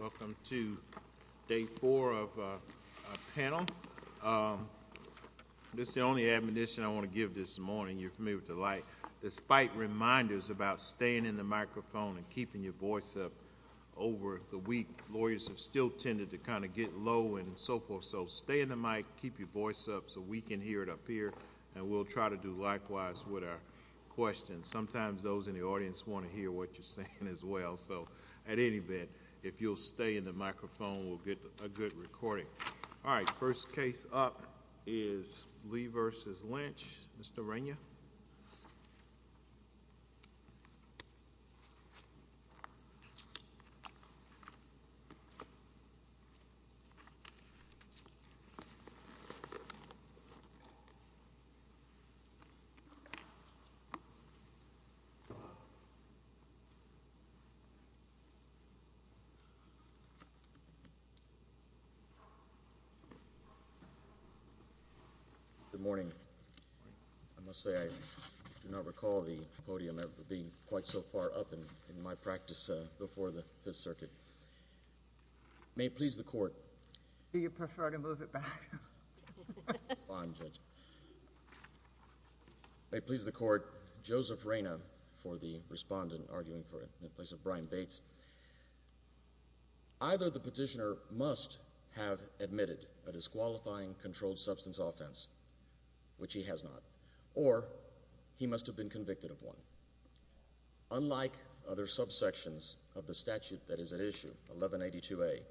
Welcome to day four of our panel. This is the only admonition I want to give this morning. You're familiar with the light. Despite reminders about staying in the microphone and keeping your voice up over the week, lawyers have still tended to kind of get low and so forth. So stay in the mic, keep your voice up so we can hear it up here, and we'll try to do likewise with our questions. Sometimes those in the audience want to hear what you're saying as well. So at any event, if you'll stay in the microphone, we'll get a good recording. All right. First case up is Lee versus Lynch. Mr Rania. Good morning. I must say, I do not recall the podium being quite so far up in my practice before the Fifth Circuit. May it please the Court. Do you prefer to move it back? Fine, Judge. May it please the Court. Joseph Raina for the respondent, arguing for Brian Bates. Either the petitioner must have admitted a disqualifying controlled substance offense, which he has not, or he must have been convicted of one. Unlike other subsections of the statute that is at issue, 1182A,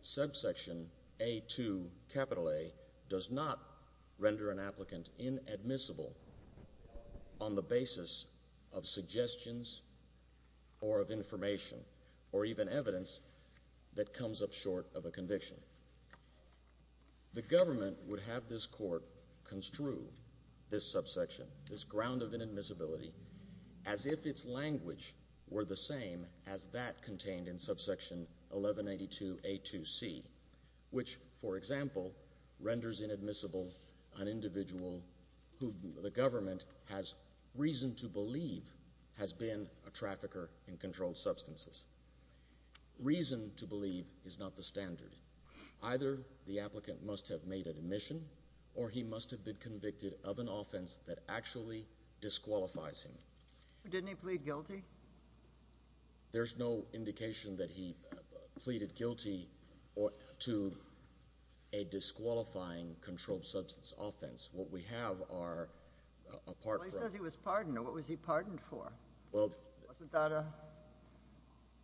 subsection A2A does not render an applicant inadmissible on the basis of suggestions or of information or even evidence that comes up short of a conviction. The government would have this Court construe this subsection, this ground of inadmissibility, as if its language were the same as that contained in subsection 1182A2C, which, for example, renders inadmissible an individual who the government has reason to believe has been a trafficker in controlled substances. Reason to believe is not the standard. Either the applicant must have made an admission, or he must have been convicted of an offense that actually disqualifies him. Didn't he plead guilty? There's no indication that he pleaded guilty to a disqualifying controlled substance offense. What we have are a pardon. Well, he says he was pardoned. What was he pardoned for? Wasn't that a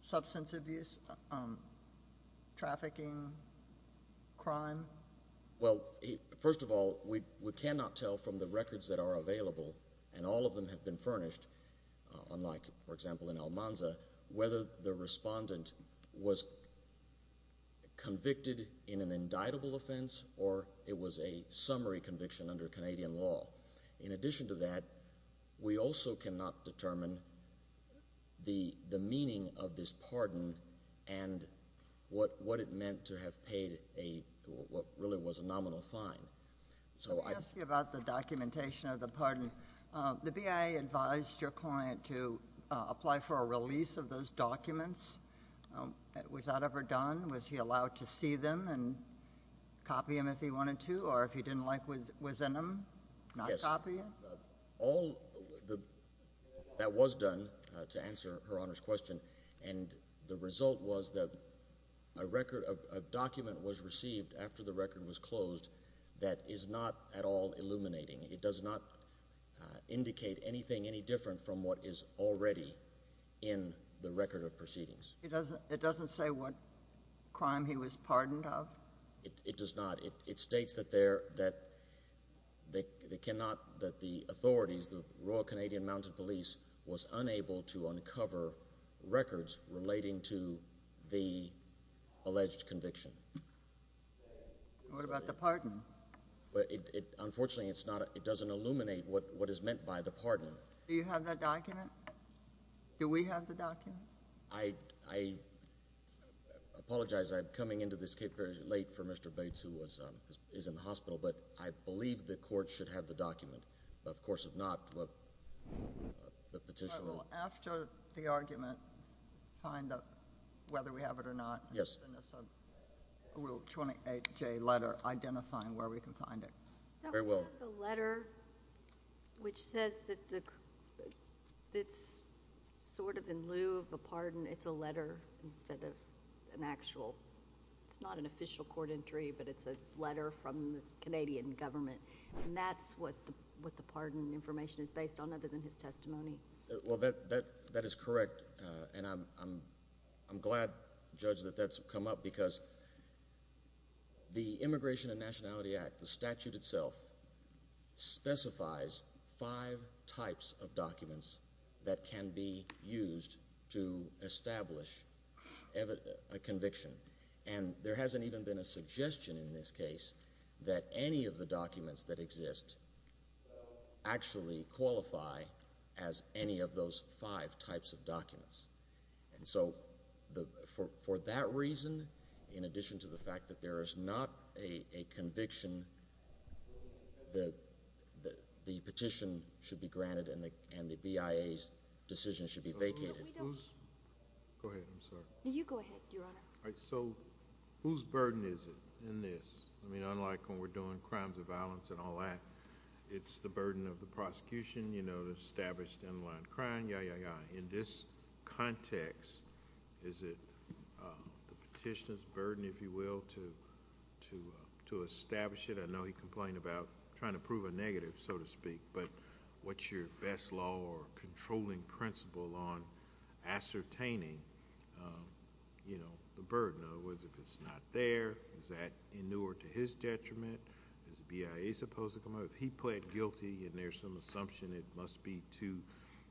substance abuse, trafficking crime? Well, first of all, we cannot tell from the all of them have been furnished, unlike, for example, in Almanza, whether the respondent was convicted in an indictable offense or it was a summary conviction under Canadian law. In addition to that, we also cannot determine the the meaning of this pardon and what what it meant to have paid a what really was a nominal fine. So I'll ask you about the documentation of the pardon. The BIA advised your client to apply for a release of those documents. Was that ever done? Was he allowed to see them and copy them if he wanted to, or if he didn't like what was in them, not copy them? All that was done, to answer Her Honor's question, and the result was that a document was received after the record was closed that is not at all illuminating. It does not indicate anything any different from what is already in the record of proceedings. It doesn't it doesn't say what crime he was pardoned of? It does not. It states that there that they cannot that the authorities, the Royal Canadian Mountain Police, was unable to uncover records relating to the alleged conviction. What about the pardon? Unfortunately, it's not it doesn't illuminate what what is meant by the pardon. Do you have that document? Do we have the document? I apologize. I'm coming into this case very late for Mr. Bates, who is in the hospital, but I believe the court should have the document. Of course, if not, the petitioner will. After the argument, find out whether we have it or not. Yes. A Rule 28J letter identifying where we can find it. Very well. The letter which says that it's sort of in lieu of a pardon, it's a letter instead of an actual, it's not an official court entry, but it's a letter from the Canadian government, and that's what the what the pardon information is based on, other than his testimony. Well, that that is correct, and I'm glad, Judge, that that's come up because the Immigration and Nationality Act, the statute itself, specifies five types of documents that can be used to establish a conviction, and there hasn't even been a suggestion in this case that any of the documents that as any of those five types of documents. And so, for that reason, in addition to the fact that there is not a conviction, the petition should be granted and the BIA's decision should be vacated. Go ahead, I'm sorry. You go ahead, Your Honor. All right, so whose burden is it in this? I mean, unlike when we're doing crimes of standalone crime, yai, yai, yai, in this context, is it the petitioner's burden, if you will, to establish it? I know he complained about trying to prove a negative, so to speak, but what's your best law or controlling principle on ascertaining, you know, the burden? In other words, if it's not there, is that inured to his detriment? Is the BIA supposed to come out? If he pled guilty and there's some assumption it must be to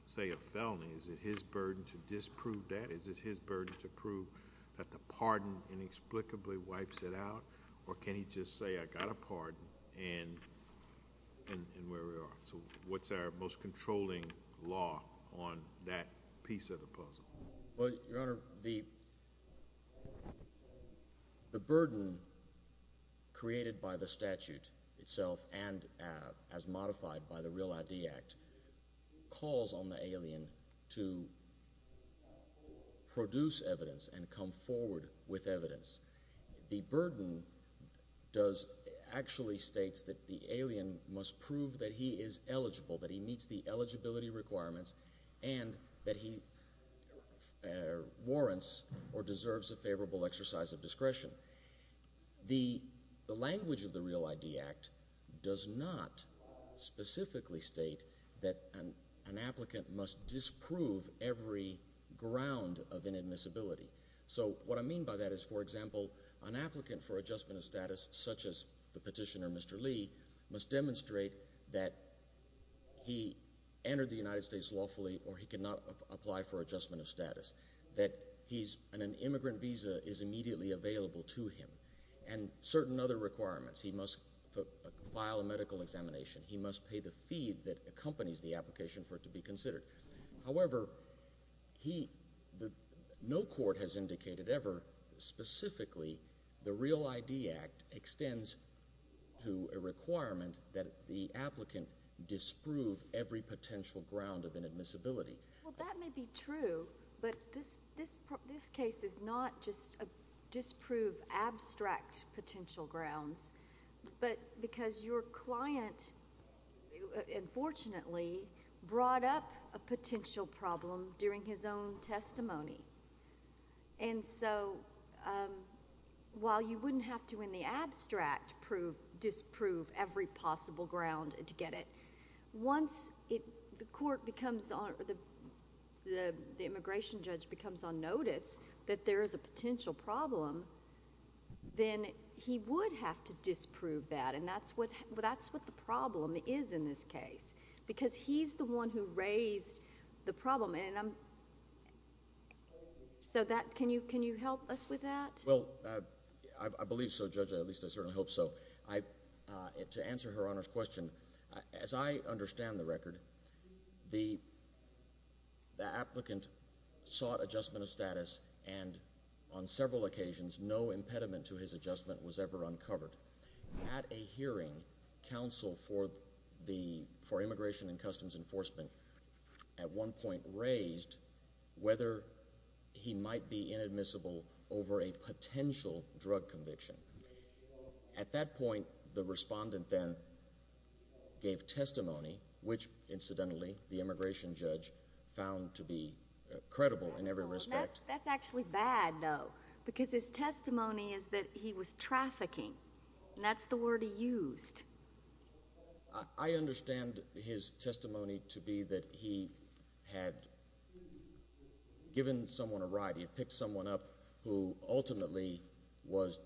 say a felony, is it his burden to disprove that? Is it his burden to prove that the pardon inexplicably wipes it out, or can he just say, I got a pardon and where we are? So what's our most controlling law on that piece of the puzzle? Well, Your Honor, the burden created by the statute itself and as calls on the alien to produce evidence and come forward with evidence. The burden does actually states that the alien must prove that he is eligible, that he meets the eligibility requirements, and that he warrants or deserves a favorable exercise of discretion. The language of the Real ID Act does not specifically state that an applicant must disprove every ground of inadmissibility. So what I mean by that is, for example, an applicant for adjustment of status, such as the petitioner Mr. Lee, must demonstrate that he entered the United States lawfully or he cannot apply for adjustment of status. That he's an immigrant visa is immediately available to him and certain other requirements. He must file a medical examination. He must pay the fee that accompanies the application for it to be considered. However, no court has indicated ever specifically the Real ID Act extends to a requirement that the applicant disprove every potential ground of inadmissibility. Well, that may be true, but this case is not just a disprove abstract potential grounds, but because your client, unfortunately, brought up a potential problem during his own testimony. So while you wouldn't have to in the abstract disprove every possible ground to get it, once the court becomes... the immigration judge becomes on notice that there is a potential problem, he would have to disprove that, and that's what the problem is in this case. Because he's the one who raised the problem, and I'm... so that... can you help us with that? Well, I believe so, Judge, at least I certainly hope so. To answer Her Honor's question, as I understand the record, the applicant sought adjustment of status and, on several occasions, no impediment to his adjustment was ever uncovered. At a hearing, counsel for Immigration and Customs Enforcement, at one point, raised whether he might be inadmissible over a potential drug conviction. At that point, the respondent then gave testimony, which, incidentally, the immigration judge found to be trafficking, and that's the word he used. I understand his testimony to be that he had given someone a ride. He picked someone up who, ultimately, was...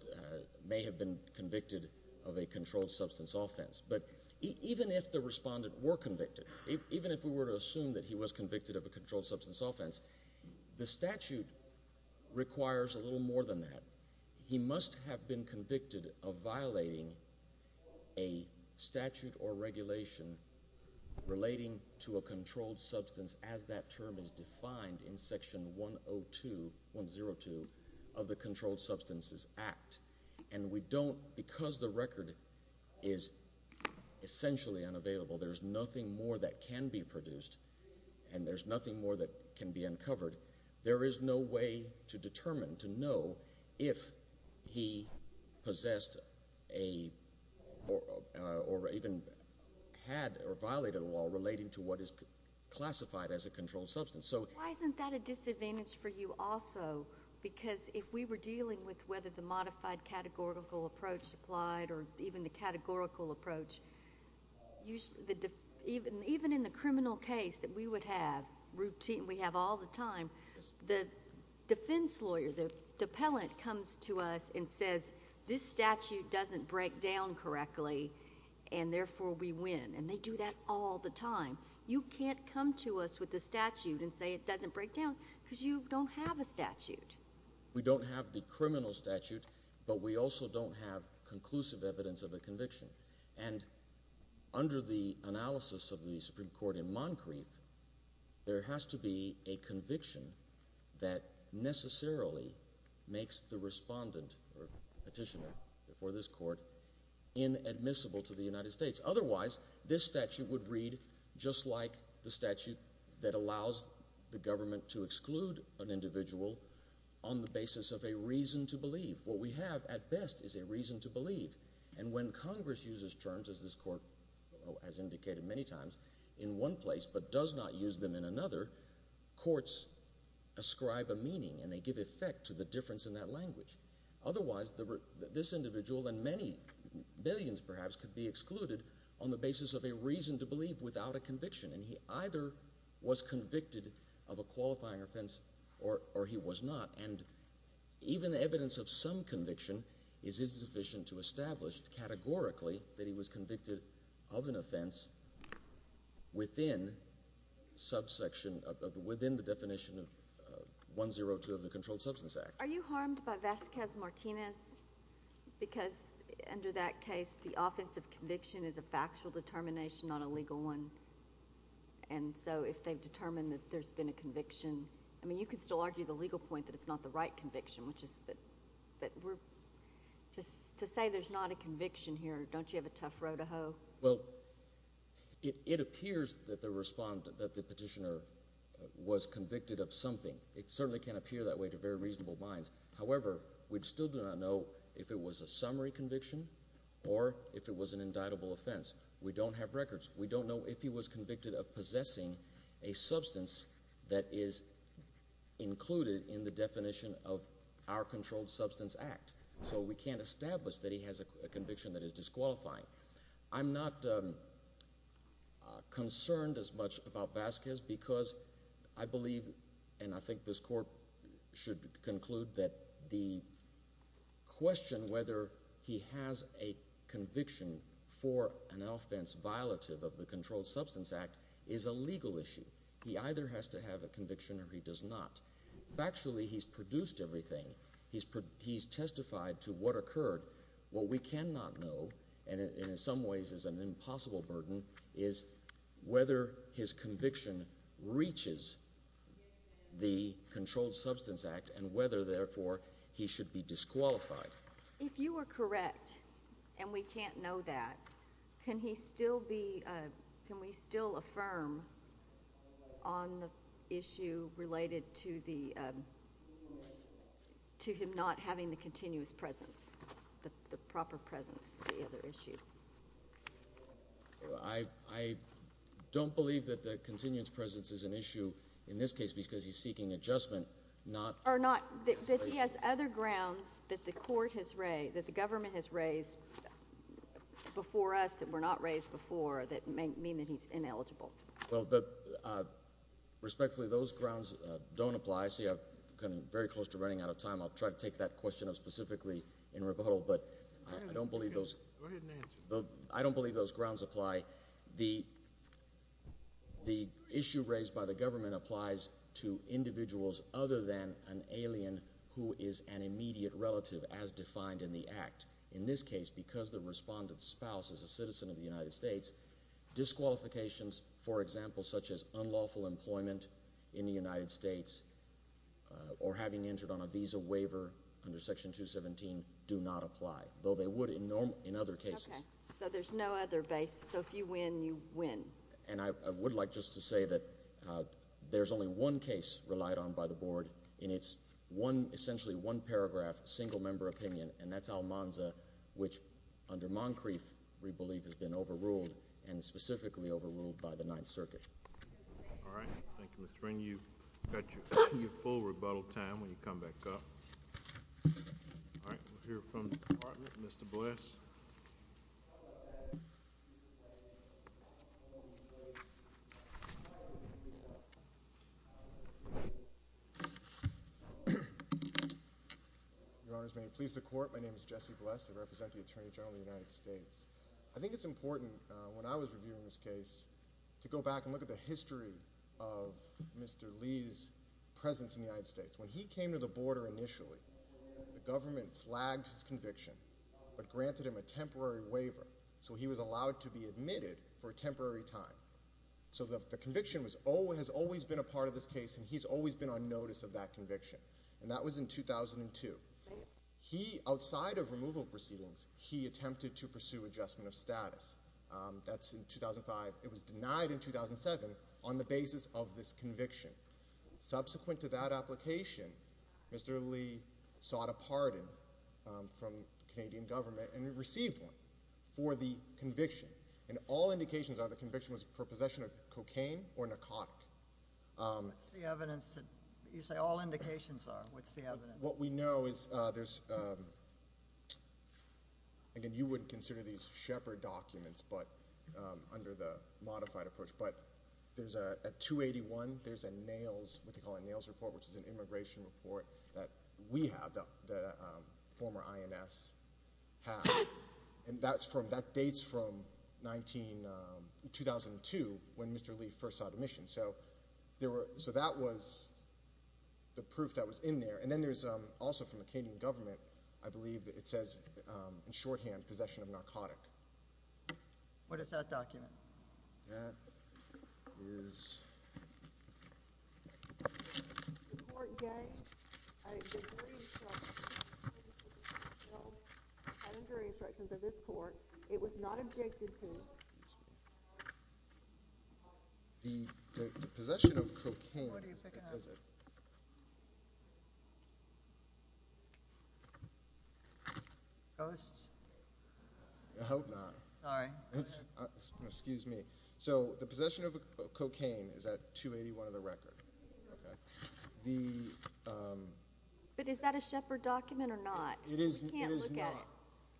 may have been convicted of a controlled substance offense. But even if the respondent were convicted, even if we were to assume that he was convicted of a controlled substance offense, he must have been convicted of violating a statute or regulation relating to a controlled substance, as that term is defined in Section 102 of the Controlled Substances Act. And we don't... because the record is essentially unavailable, there's nothing more that can be produced, and there's nothing more that can be uncovered. There is no way to know if he possessed a... or even had or violated a law relating to what is classified as a controlled substance. So... Why isn't that a disadvantage for you also? Because if we were dealing with whether the modified categorical approach applied or even the categorical approach, usually the... even in the criminal case that we would have, routine... we have all the time, the defense lawyer, the appellant comes to us and says, this statute doesn't break down correctly, and therefore we win. And they do that all the time. You can't come to us with a statute and say it doesn't break down, because you don't have a statute. We don't have the criminal statute, but we also don't have conclusive evidence of a conviction. And under the analysis of the Supreme Court in Moncrief, there has to be a conviction that necessarily makes the respondent or petitioner for this court inadmissible to the United States. Otherwise, this statute would read just like the statute that allows the government to exclude an individual on the basis of a reason to believe. What we have, at best, is a reason to believe. And when Congress uses terms, as this Court has indicated many times, in one place but does not use them in another, courts ascribe a meaning and they give effect to the difference in that language. Otherwise, this individual and many, billions perhaps, could be excluded on the basis of a reason to believe without a conviction. And he either was convicted of a qualifying offense or he was not. And even the evidence of some conviction is insufficient to establish categorically that he was convicted of an offense within the definition of 102 of the Controlled Substance Act. Are you harmed by Vasquez-Martinez? Because under that case, the offensive conviction is a factual determination, not a legal one. And so, if they've determined that there's been a conviction, I mean, you could still argue the legal point that it's not the right conviction, which is—to say there's not a conviction here, don't you have a tough row to hoe? Well, it appears that the respondent, that the petitioner, was convicted of something. It certainly can appear that way to very reasonable minds. However, we still do not know if it was a summary conviction or if it was an indictable offense. We don't have records. We don't know if he was convicted of possessing a substance that is included in the definition of our Controlled Substance Act. So we can't establish that he has a conviction that is disqualifying. I'm not concerned as much about Vasquez because I believe, and I think this Court should conclude, that the question whether he has a conviction for an offense violative of the Controlled Substance Act is a legal issue. He either has to have a conviction or he does not. Factually, he's produced everything. He's testified to what occurred. What we cannot know, and in some ways is an impossible burden, is whether his conviction reaches the Controlled Substance Act and whether, therefore, he should be disqualified. If you were correct, and we can't know that, can we still affirm on the issue related to him not having the continuous presence, the proper presence, of the other issue? I don't believe that the continuous presence is an issue in this case because he's seeking adjustment, not disqualification. Or not, that he has other grounds that the Court has raised, that the government has raised before us that were not raised before that may mean that he's ineligible. Well, respectfully, those grounds don't apply. See, I've come very close to running out of time. I'll try to take that question up specifically in rebuttal, but I don't believe those grounds apply. The issue raised by the government applies to individuals other than an alien who is an immediate relative, as defined in the Act. In this case, because the respondent's spouse is a citizen of the United States, disqualifications, for example, such as unlawful employment in the United States or having entered on a visa waiver under Section 217, do not apply, though they would in other cases. Okay. So there's no other basis. So if you win, you win. And I would like just to say that there's only one case relied on by the Board, and it's one, essentially one paragraph, single-member opinion, and that's Almanza, which under Moncrief, we believe has been overruled, and specifically overruled by the Ninth Circuit. All right. Thank you, Mr. Wren. You've got your full rebuttal time when you come back up. All right. We'll hear from the Department. Mr. Bliss. Your Honors, may it please the Court, my name is Jesse Bliss. I represent the Attorney General of the United States. I think it's important, when I was reviewing this case, to go back and look at Jesse's presence in the United States. When he came to the border initially, the government flagged his conviction, but granted him a temporary waiver, so he was allowed to be admitted for a temporary time. So the conviction has always been a part of this case, and he's always been on notice of that conviction, and that was in 2002. He, outside of removal proceedings, he attempted to pursue adjustment of status. That's in 2005. It was in 2006. Subsequent to that application, Mr. Lee sought a pardon from the Canadian government, and he received one for the conviction, and all indications are the conviction was for possession of cocaine or narcotic. What's the evidence? You say all indications are. What's the evidence? What we know is there's... Again, you wouldn't consider these shepherd which is an immigration report that we have, the former INS, have, and that dates from 2002, when Mr. Lee first sought admission. So that was the proof that was in there, and then there's also from the Canadian government, I believe that it says, in shorthand, possession of narcotic. What is that document? That is... The court gave a jury instruction... No, no jury instructions of this court. It was not objected to. The possession of cocaine... What is that? I hope not. Sorry. Excuse me. So the possession of cocaine is at 281 of the record. But is that a shepherd document or not? It is not. We can't look at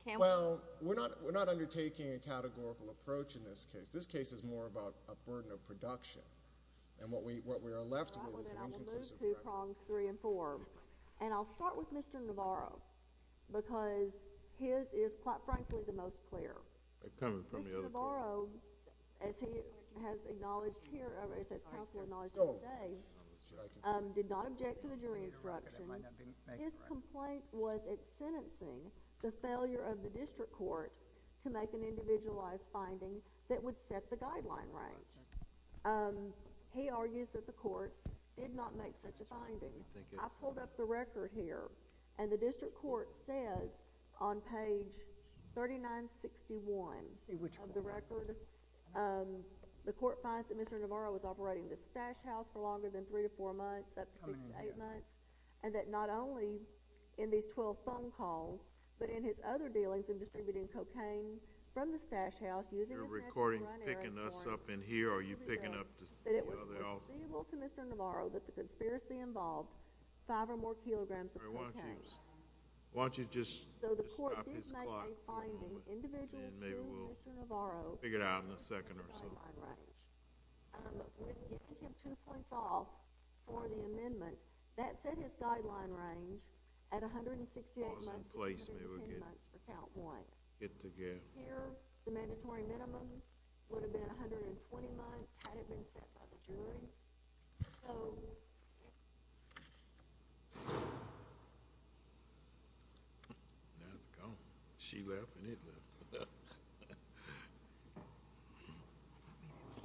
it. Well, we're not undertaking a categorical approach in this case. This case is more about a burden of production, and what we are left with is an inconclusive record. I will move two prongs three and four, and I'll start with Mr. Navarro, because his is, quite frankly, the most clear. Mr. Navarro, as he has acknowledged here, or as his counselor acknowledged here today, did not object to the jury instructions. His complaint was at sentencing the failure of the district court to make an individualized finding that would set the guideline range. He argues that the court did not make such a finding. I pulled up the record here, and the district court says on page 3961 of the record, the court finds that Mr. Navarro was operating the stash house for longer than three to four months, up to six to eight months, and that not only in these 12 phone calls, but in his other dealings in distributing that it was conceivable to Mr. Navarro that the conspiracy involved five or more kilograms of cocaine. Why don't you just stop this clock for a moment, and maybe we'll figure it out in a second or so. I'm giving him two points off for the amendment. That set his guideline range at 168 months for count one. Here, the mandatory minimum would have been 120 months had it been set by the jury. Now it's gone. She left, and it left. I thought maybe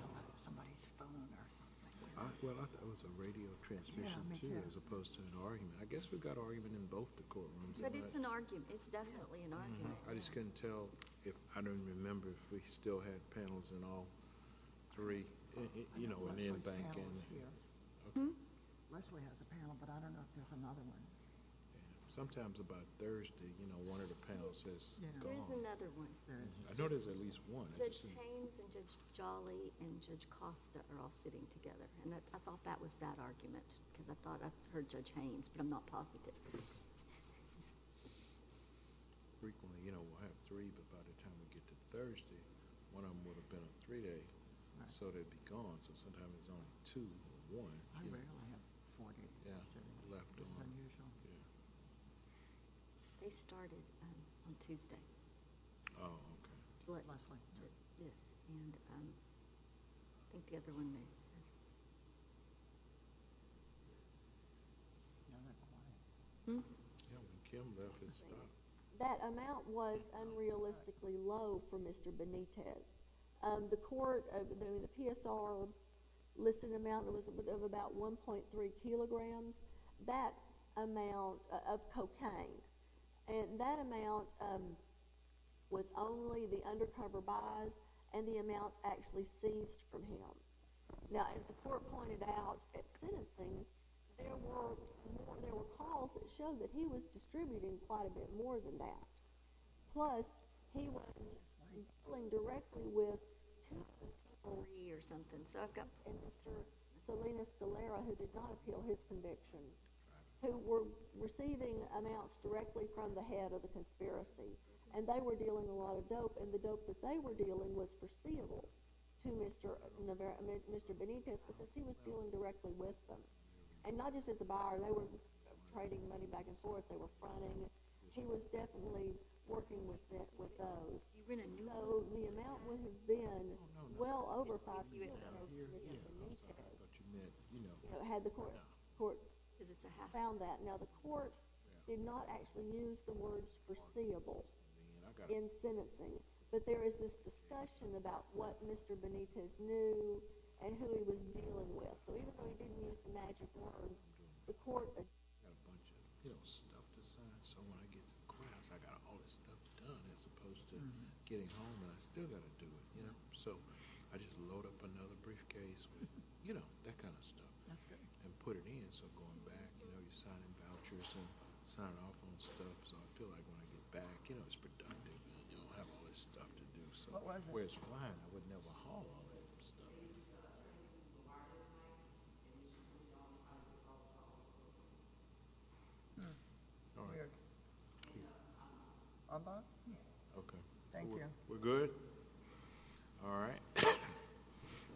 it was somebody's phone or something. Well, I thought it was a radio transmission, too, as opposed to an argument. I guess we've got argument in both the courtrooms. But it's an argument. It's definitely an argument. I just couldn't tell. I don't even remember if we still had panels in all three. Leslie has a panel, but I don't know if there's another one. Sometimes about Thursday, one of the panels says go home. There's another one Thursday. I know there's at least one. Judge Haynes and Judge Jolly and Judge Costa are all sitting together, and I thought that was that argument, because I thought I heard Judge Haynes, but I'm not positive. Frequently, we'll have three, but by the time we get to Thursday, one of them would have been a three-day, so they'd be gone. So sometimes it's only two or one. I rarely have four days. Yeah, left on. It's unusual. They started on Tuesday. Oh, okay. Leslie. Yes, and I think the other one may have. No, not quite. Hmm? Yeah, when Kim left, it stopped. That amount was unrealistically low for Mr. Benitez. The court, the PSR listed an amount that was of about 1.3 kilograms. That amount of cocaine. That amount was only the undercover buys, and the amounts actually seized from him. Now, as the court pointed out at sentencing, there were calls that showed that he was distributing quite a bit more than that. Plus, he was dealing directly with two or three or something. And Mr. Salinas Galera, who did not appeal his conviction, who were receiving amounts directly from the head of the conspiracy, and they were dealing a lot of dope, and the dope that they were dealing was foreseeable to Mr. Benitez because he was dealing directly with them. And not just as a buyer. They were trading money back and forth. They were fronting. He was definitely working with those. So, the amount would have been well over 5 kilograms for Mr. Benitez. Had the court found that. Now, the court did not actually use the words foreseeable in sentencing, but there is this discussion about what Mr. Benitez knew and who he was dealing with. So, even though he didn't use the magic words, the court agreed. So, when I get to class, I got all this stuff done as opposed to getting home and I still got to do it. So, I just load up another briefcase with that kind of stuff and put it in. So, going back, you're signing vouchers and signing off on stuff. So, I feel like when I get back, it's productive. You don't have all this stuff to do. So, where it's flying, I wouldn't ever haul all that stuff. All right. Okay. Thank you. We're good? All right.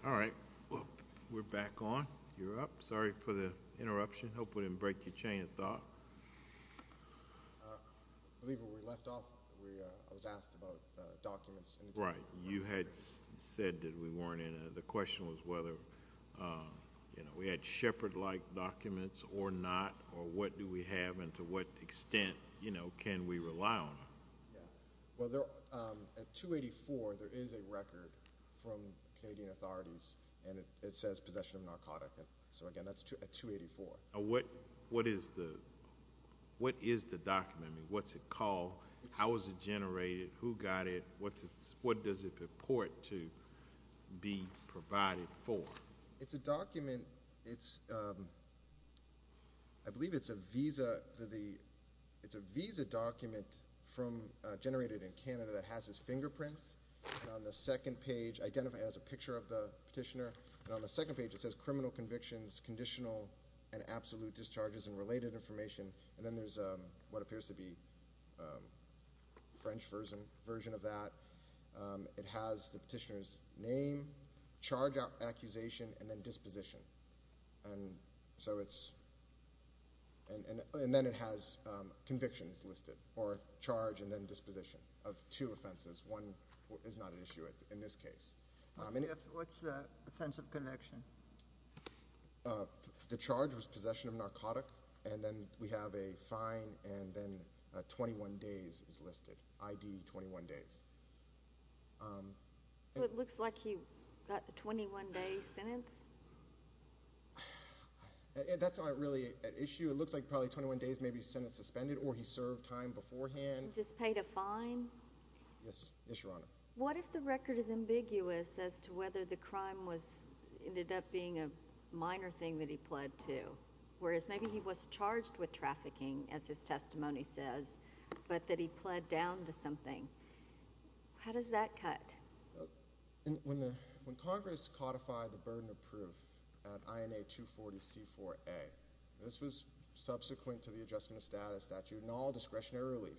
All right. We're back on. You're up. Sorry for the interruption. Hope we didn't break your chain of thought. I believe when we left off, I was asked about documents. Right. You had said that we weren't in. The question was whether we had shepherd-like documents or not or what do we have and to what extent can we rely on them? Yeah. Well, at 284, there is a record from Canadian authorities and it says possession of narcotic. So, again, that's at 284. What is the document? What's it called? How was it generated? Who got it? What does it purport to be provided for? It's a document. I believe it's a visa document generated in Canada that has his fingerprints. On the second page, it has a picture of the petitioner. On the second page, it says criminal convictions, conditional and absolute discharges and related information. And then there's what appears to be a French version of that. It has the petitioner's name, charge accusation, and then disposition. And then it has convictions listed or charge and then disposition of two offenses. One is not an issue in this case. What's the offensive conviction? The charge was possession of narcotic. And then we have a fine and then 21 days is listed, ID 21 days. It looks like he got the 21-day sentence. That's not really an issue. It looks like probably 21 days may be sentence suspended or he served time beforehand. Just paid a fine? Yes, Your Honor. What if the record is ambiguous as to whether the crime ended up being a minor thing that he pled to, whereas maybe he was charged with trafficking, as his testimony says, but that he pled down to something? How does that cut? When Congress codified the burden of proof at INA 240C4A, this was subsequent to the adjustment of status statute and all discretionary relief.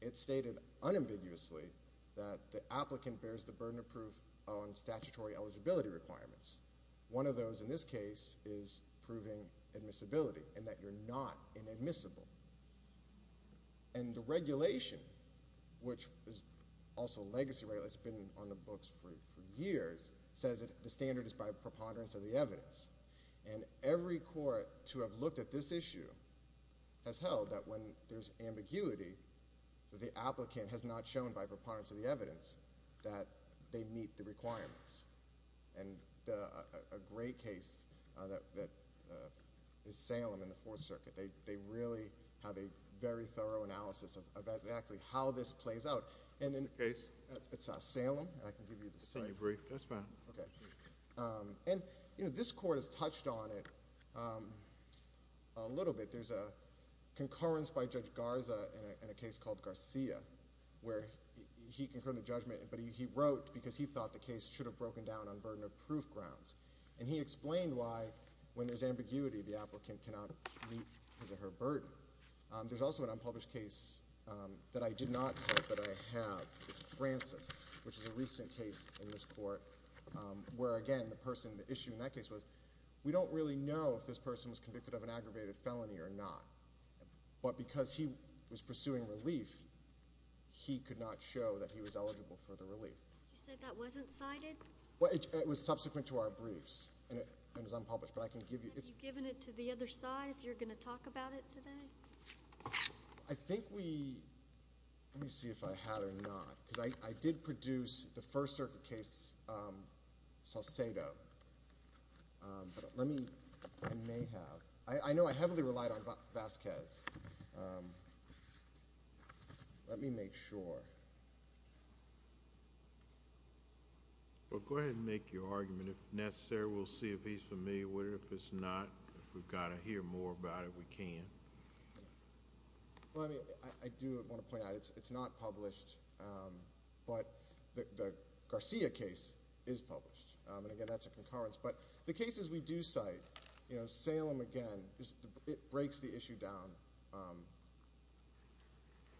It stated unambiguously that the applicant bears the burden of proof on statutory eligibility requirements. One of those in this case is proving admissibility and that you're not inadmissible. And the regulation, which is also a legacy regulation that's been on the books for years, says that the standard is by preponderance of the evidence. And every court to have looked at this issue has held that when there's ambiguity, the applicant has not shown by preponderance of the evidence that they meet the requirements. And a great case that is Salem in the Fourth Circuit, they really have a very thorough analysis of exactly how this plays out. What case? It's Salem. I can give you the same. I can agree. That's fine. And this court has touched on it a little bit. There's a concurrence by Judge Garza in a case called Garcia, where he concurred the judgment, but he wrote because he thought the case should have broken down on burden of proof grounds. And he explained why when there's ambiguity, the applicant cannot meet his or her burden. There's also an unpublished case that I did not set, but I have. It's Francis, which is a recent case in this court, where, again, the person, the issue in that case was we don't really know if this person was convicted of an aggravated felony or not. But because he was pursuing relief, he could not show that he was eligible for the relief. You said that wasn't cited? Well, it was subsequent to our briefs, and it was unpublished. But I can give you— Have you given it to the other side if you're going to talk about it today? I think we—let me see if I had it or not. Because I did produce the First Circuit case, Salcedo. But let me—I may have. I know I heavily relied on Vasquez. Let me make sure. Well, go ahead and make your argument. If necessary, we'll see if he's familiar with it. If it's not, if we've got to hear more about it, we can. Well, I mean, I do want to point out it's not published. But the Garcia case is published. And, again, that's a concurrence. But the cases we do cite, you know, Salem again, it breaks the issue down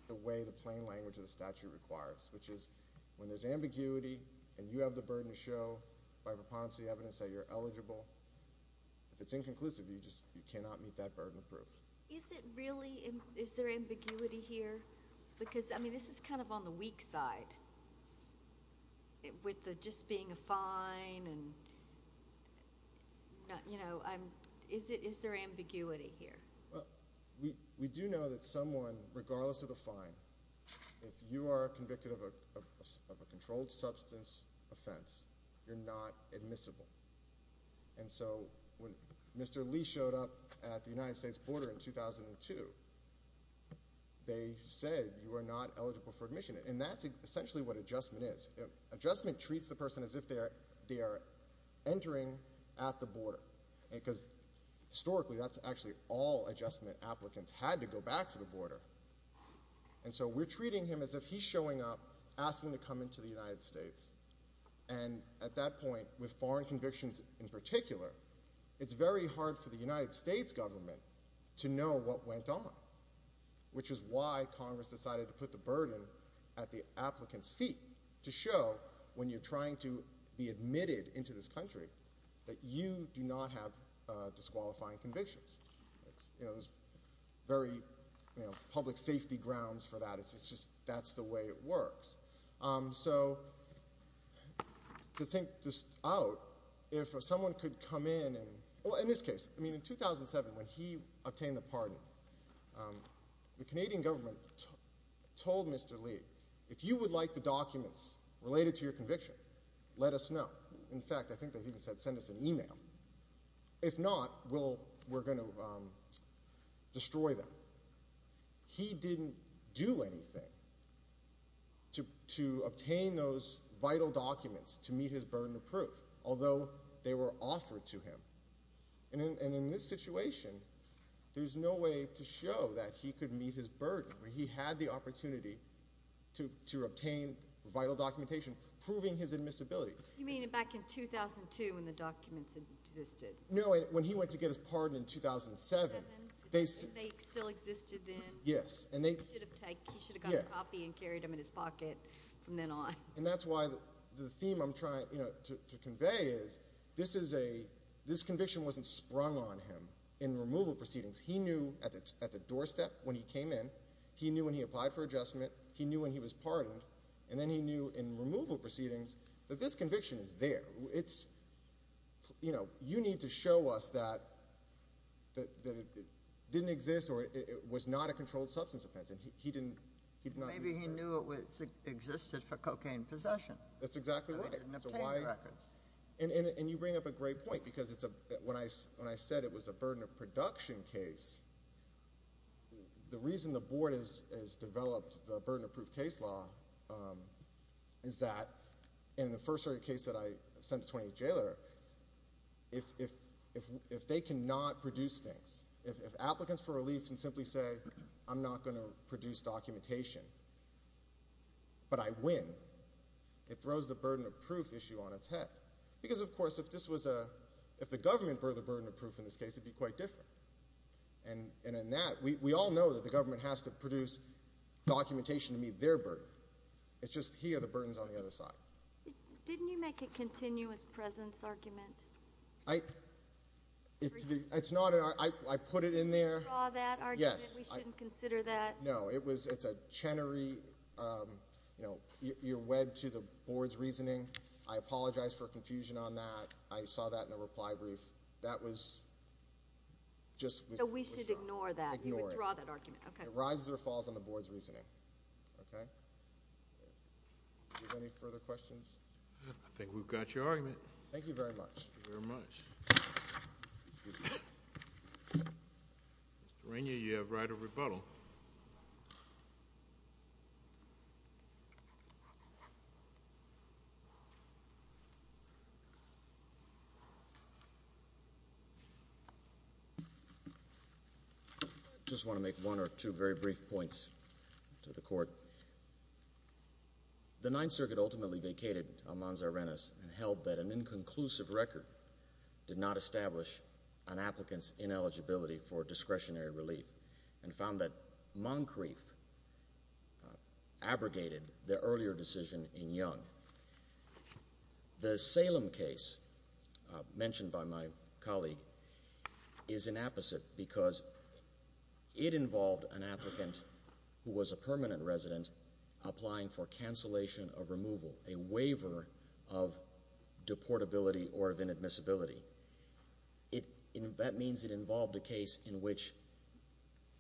the way the plain language of the statute requires, which is when there's ambiguity and you have the If it's inconclusive, you just—you cannot meet that burden of proof. Is it really—is there ambiguity here? Because, I mean, this is kind of on the weak side with the just being a fine and, you know, is there ambiguity here? We do know that someone, regardless of the fine, if you are convicted of a controlled substance offense, you're not admissible. And so when Mr. Lee showed up at the United States border in 2002, they said you are not eligible for admission. And that's essentially what adjustment is. Adjustment treats the person as if they are entering at the border. Because, historically, that's actually all adjustment applicants had to go back to the border. And so we're treating him as if he's showing up, asking to come into the United States. And at that point, with foreign convictions in particular, it's very hard for the United States government to know what went on, which is why Congress decided to put the burden at the applicant's feet to show when you're trying to be admitted into this country that you do not have disqualifying convictions. You know, there's very, you know, public safety grounds for that. It's just—that's the way it works. So to think this out, if someone could come in and—well, in this case, I mean, in 2007 when he obtained the pardon, the Canadian government told Mr. Lee, if you would like the documents related to your conviction, let us know. In fact, I think they even said send us an email. If not, we'll—we're going to destroy them. He didn't do anything to obtain those vital documents to meet his burden of proof, although they were offered to him. And in this situation, there's no way to show that he could meet his burden. He had the opportunity to obtain vital documentation proving his admissibility. You mean back in 2002 when the documents existed? No, when he went to get his pardon in 2007. They still existed then? Yes. He should have gotten a copy and carried them in his pocket from then on. And that's why the theme I'm trying to convey is this is a—this conviction wasn't sprung on him in removal proceedings. He knew at the doorstep when he came in. He knew when he applied for adjustment. He knew when he was pardoned. And then he knew in removal proceedings that this conviction is there. You know, you need to show us that it didn't exist or it was not a controlled substance offense. And he did not— Maybe he knew it existed for cocaine possession. That's exactly right. So he didn't obtain the records. And you bring up a great point because when I said it was a burden of production case, the reason the Board has developed the burden of proof case law is that— if they cannot produce things, if applicants for relief can simply say, I'm not going to produce documentation, but I win, it throws the burden of proof issue on its head. Because, of course, if this was a—if the government were the burden of proof in this case, it would be quite different. And in that, we all know that the government has to produce documentation to meet their burden. It's just he or the burden is on the other side. Didn't you make a continuous presence argument? I—it's not—I put it in there. Did you withdraw that argument? Yes. We shouldn't consider that. No, it was—it's a Chenery—you know, you're wed to the Board's reasoning. I apologize for confusion on that. I saw that in the reply brief. That was just— So we should ignore that. Ignore it. You withdraw that argument. Okay. It rises or falls on the Board's reasoning. Okay? Do you have any further questions? I think we've got your argument. Thank you very much. Thank you very much. Excuse me. Mr. Rainier, you have right of rebuttal. I just want to make one or two very brief points to the Court. The Ninth Circuit ultimately vacated Almanzar-Rennes and held that an inconclusive record did not establish an applicant's ineligibility for discretionary relief and found that Moncrief abrogated the earlier decision in Young. The Salem case mentioned by my colleague is an apposite because it involved an applicant who was a permanent resident applying for cancellation of removal, a waiver of deportability or of inadmissibility. That means it involved a case in which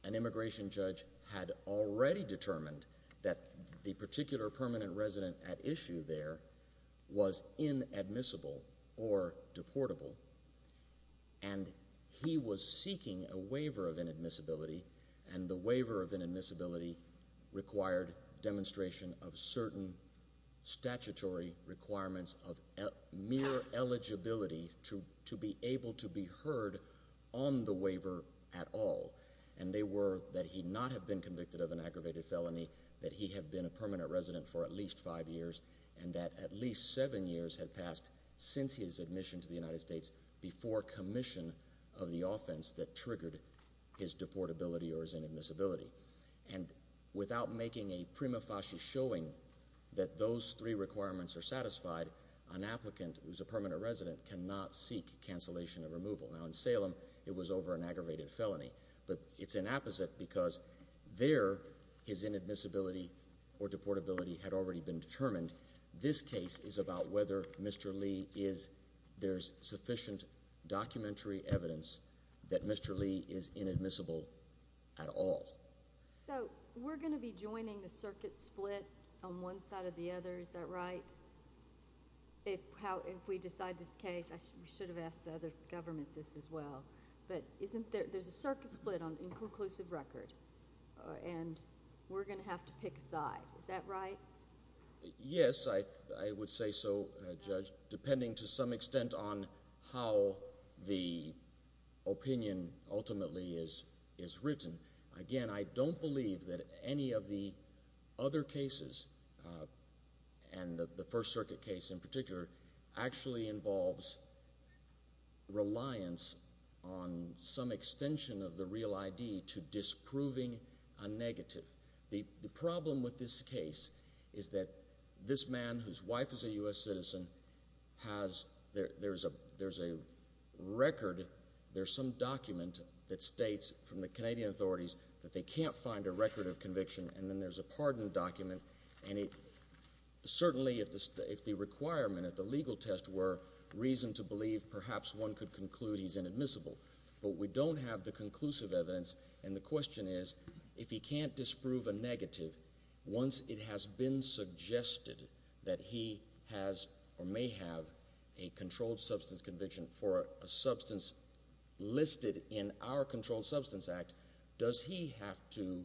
an immigration judge had already determined that the particular permanent resident at issue there was inadmissible or deportable, and he was seeking a waiver of inadmissibility, and the waiver of inadmissibility required demonstration of certain statutory requirements of mere eligibility to be able to be heard on the waiver at all. And they were that he not have been convicted of an aggravated felony, that he had been a permanent resident for at least five years, and that at least seven years had passed since his admission to the United States before commission of the offense that triggered his deportability or his inadmissibility. And without making a prima facie showing that those three requirements are satisfied, an applicant who's a permanent resident cannot seek cancellation of removal. Now, in Salem, it was over an aggravated felony, but it's an apposite because there his inadmissibility or deportability had already been determined. This case is about whether Mr. Lee is – there's sufficient documentary evidence that Mr. Lee is inadmissible at all. So we're going to be joining the circuit split on one side or the other, is that right? If we decide this case – I should have asked the other government this as well – but isn't there – there's a circuit split on inclusive record, and we're going to have to pick a side. Is that right? Yes, I would say so, Judge, depending to some extent on how the opinion ultimately is written. Again, I don't believe that any of the other cases, and the First Circuit case in particular, actually involves reliance on some extension of the real ID to disproving a negative. The problem with this case is that this man, whose wife is a U.S. citizen, has – there's a record. There's some document that states from the Canadian authorities that they can't find a record of conviction, and then there's a pardon document. And certainly, if the requirement of the legal test were reason to believe perhaps one could conclude he's inadmissible, but we don't have the conclusive evidence. And the question is, if he can't disprove a negative, once it has been suggested that he has or may have a controlled substance conviction for a substance listed in our Controlled Substance Act, does he have to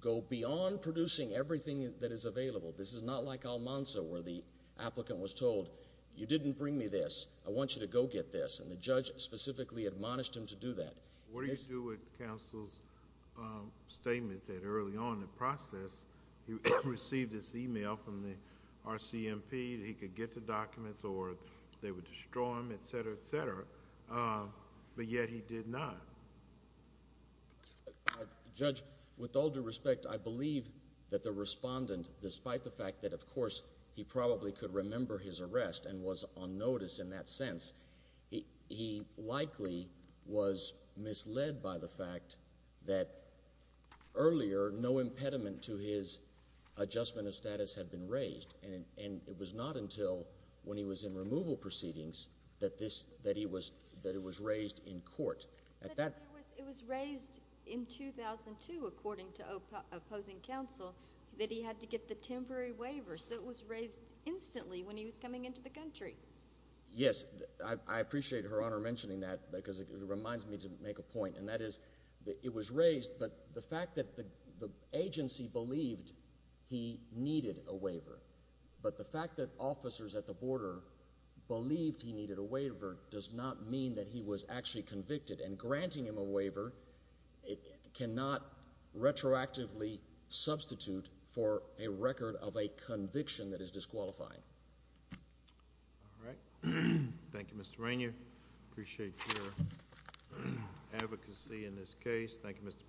go beyond producing everything that is available? This is not like Almanza, where the applicant was told, you didn't bring me this. I want you to go get this. And the judge specifically admonished him to do that. What do you do with counsel's statement that early on in the process he received this email from the RCMP that he could get the documents or they would destroy them, etc., etc., but yet he did not? Judge, with all due respect, I believe that the respondent, despite the fact that, of course, he probably could remember his arrest and was on notice in that sense, he likely was misled by the fact that earlier no impediment to his adjustment of status had been raised. And it was not until when he was in removal proceedings that this – that he was – that it was raised in court. But it was raised in 2002, according to opposing counsel, that he had to get the temporary waiver. So it was raised instantly when he was coming into the country. Yes, I appreciate Her Honor mentioning that because it reminds me to make a point, and that is it was raised, but the fact that the agency believed he needed a waiver, but the fact that officers at the border believed he needed a waiver does not mean that he was actually convicted. And granting him a waiver cannot retroactively substitute for a record of a conviction that is disqualifying. All right. Thank you, Mr. Rainier. I appreciate your advocacy in this case. Thank you, Mr. Blumenthal.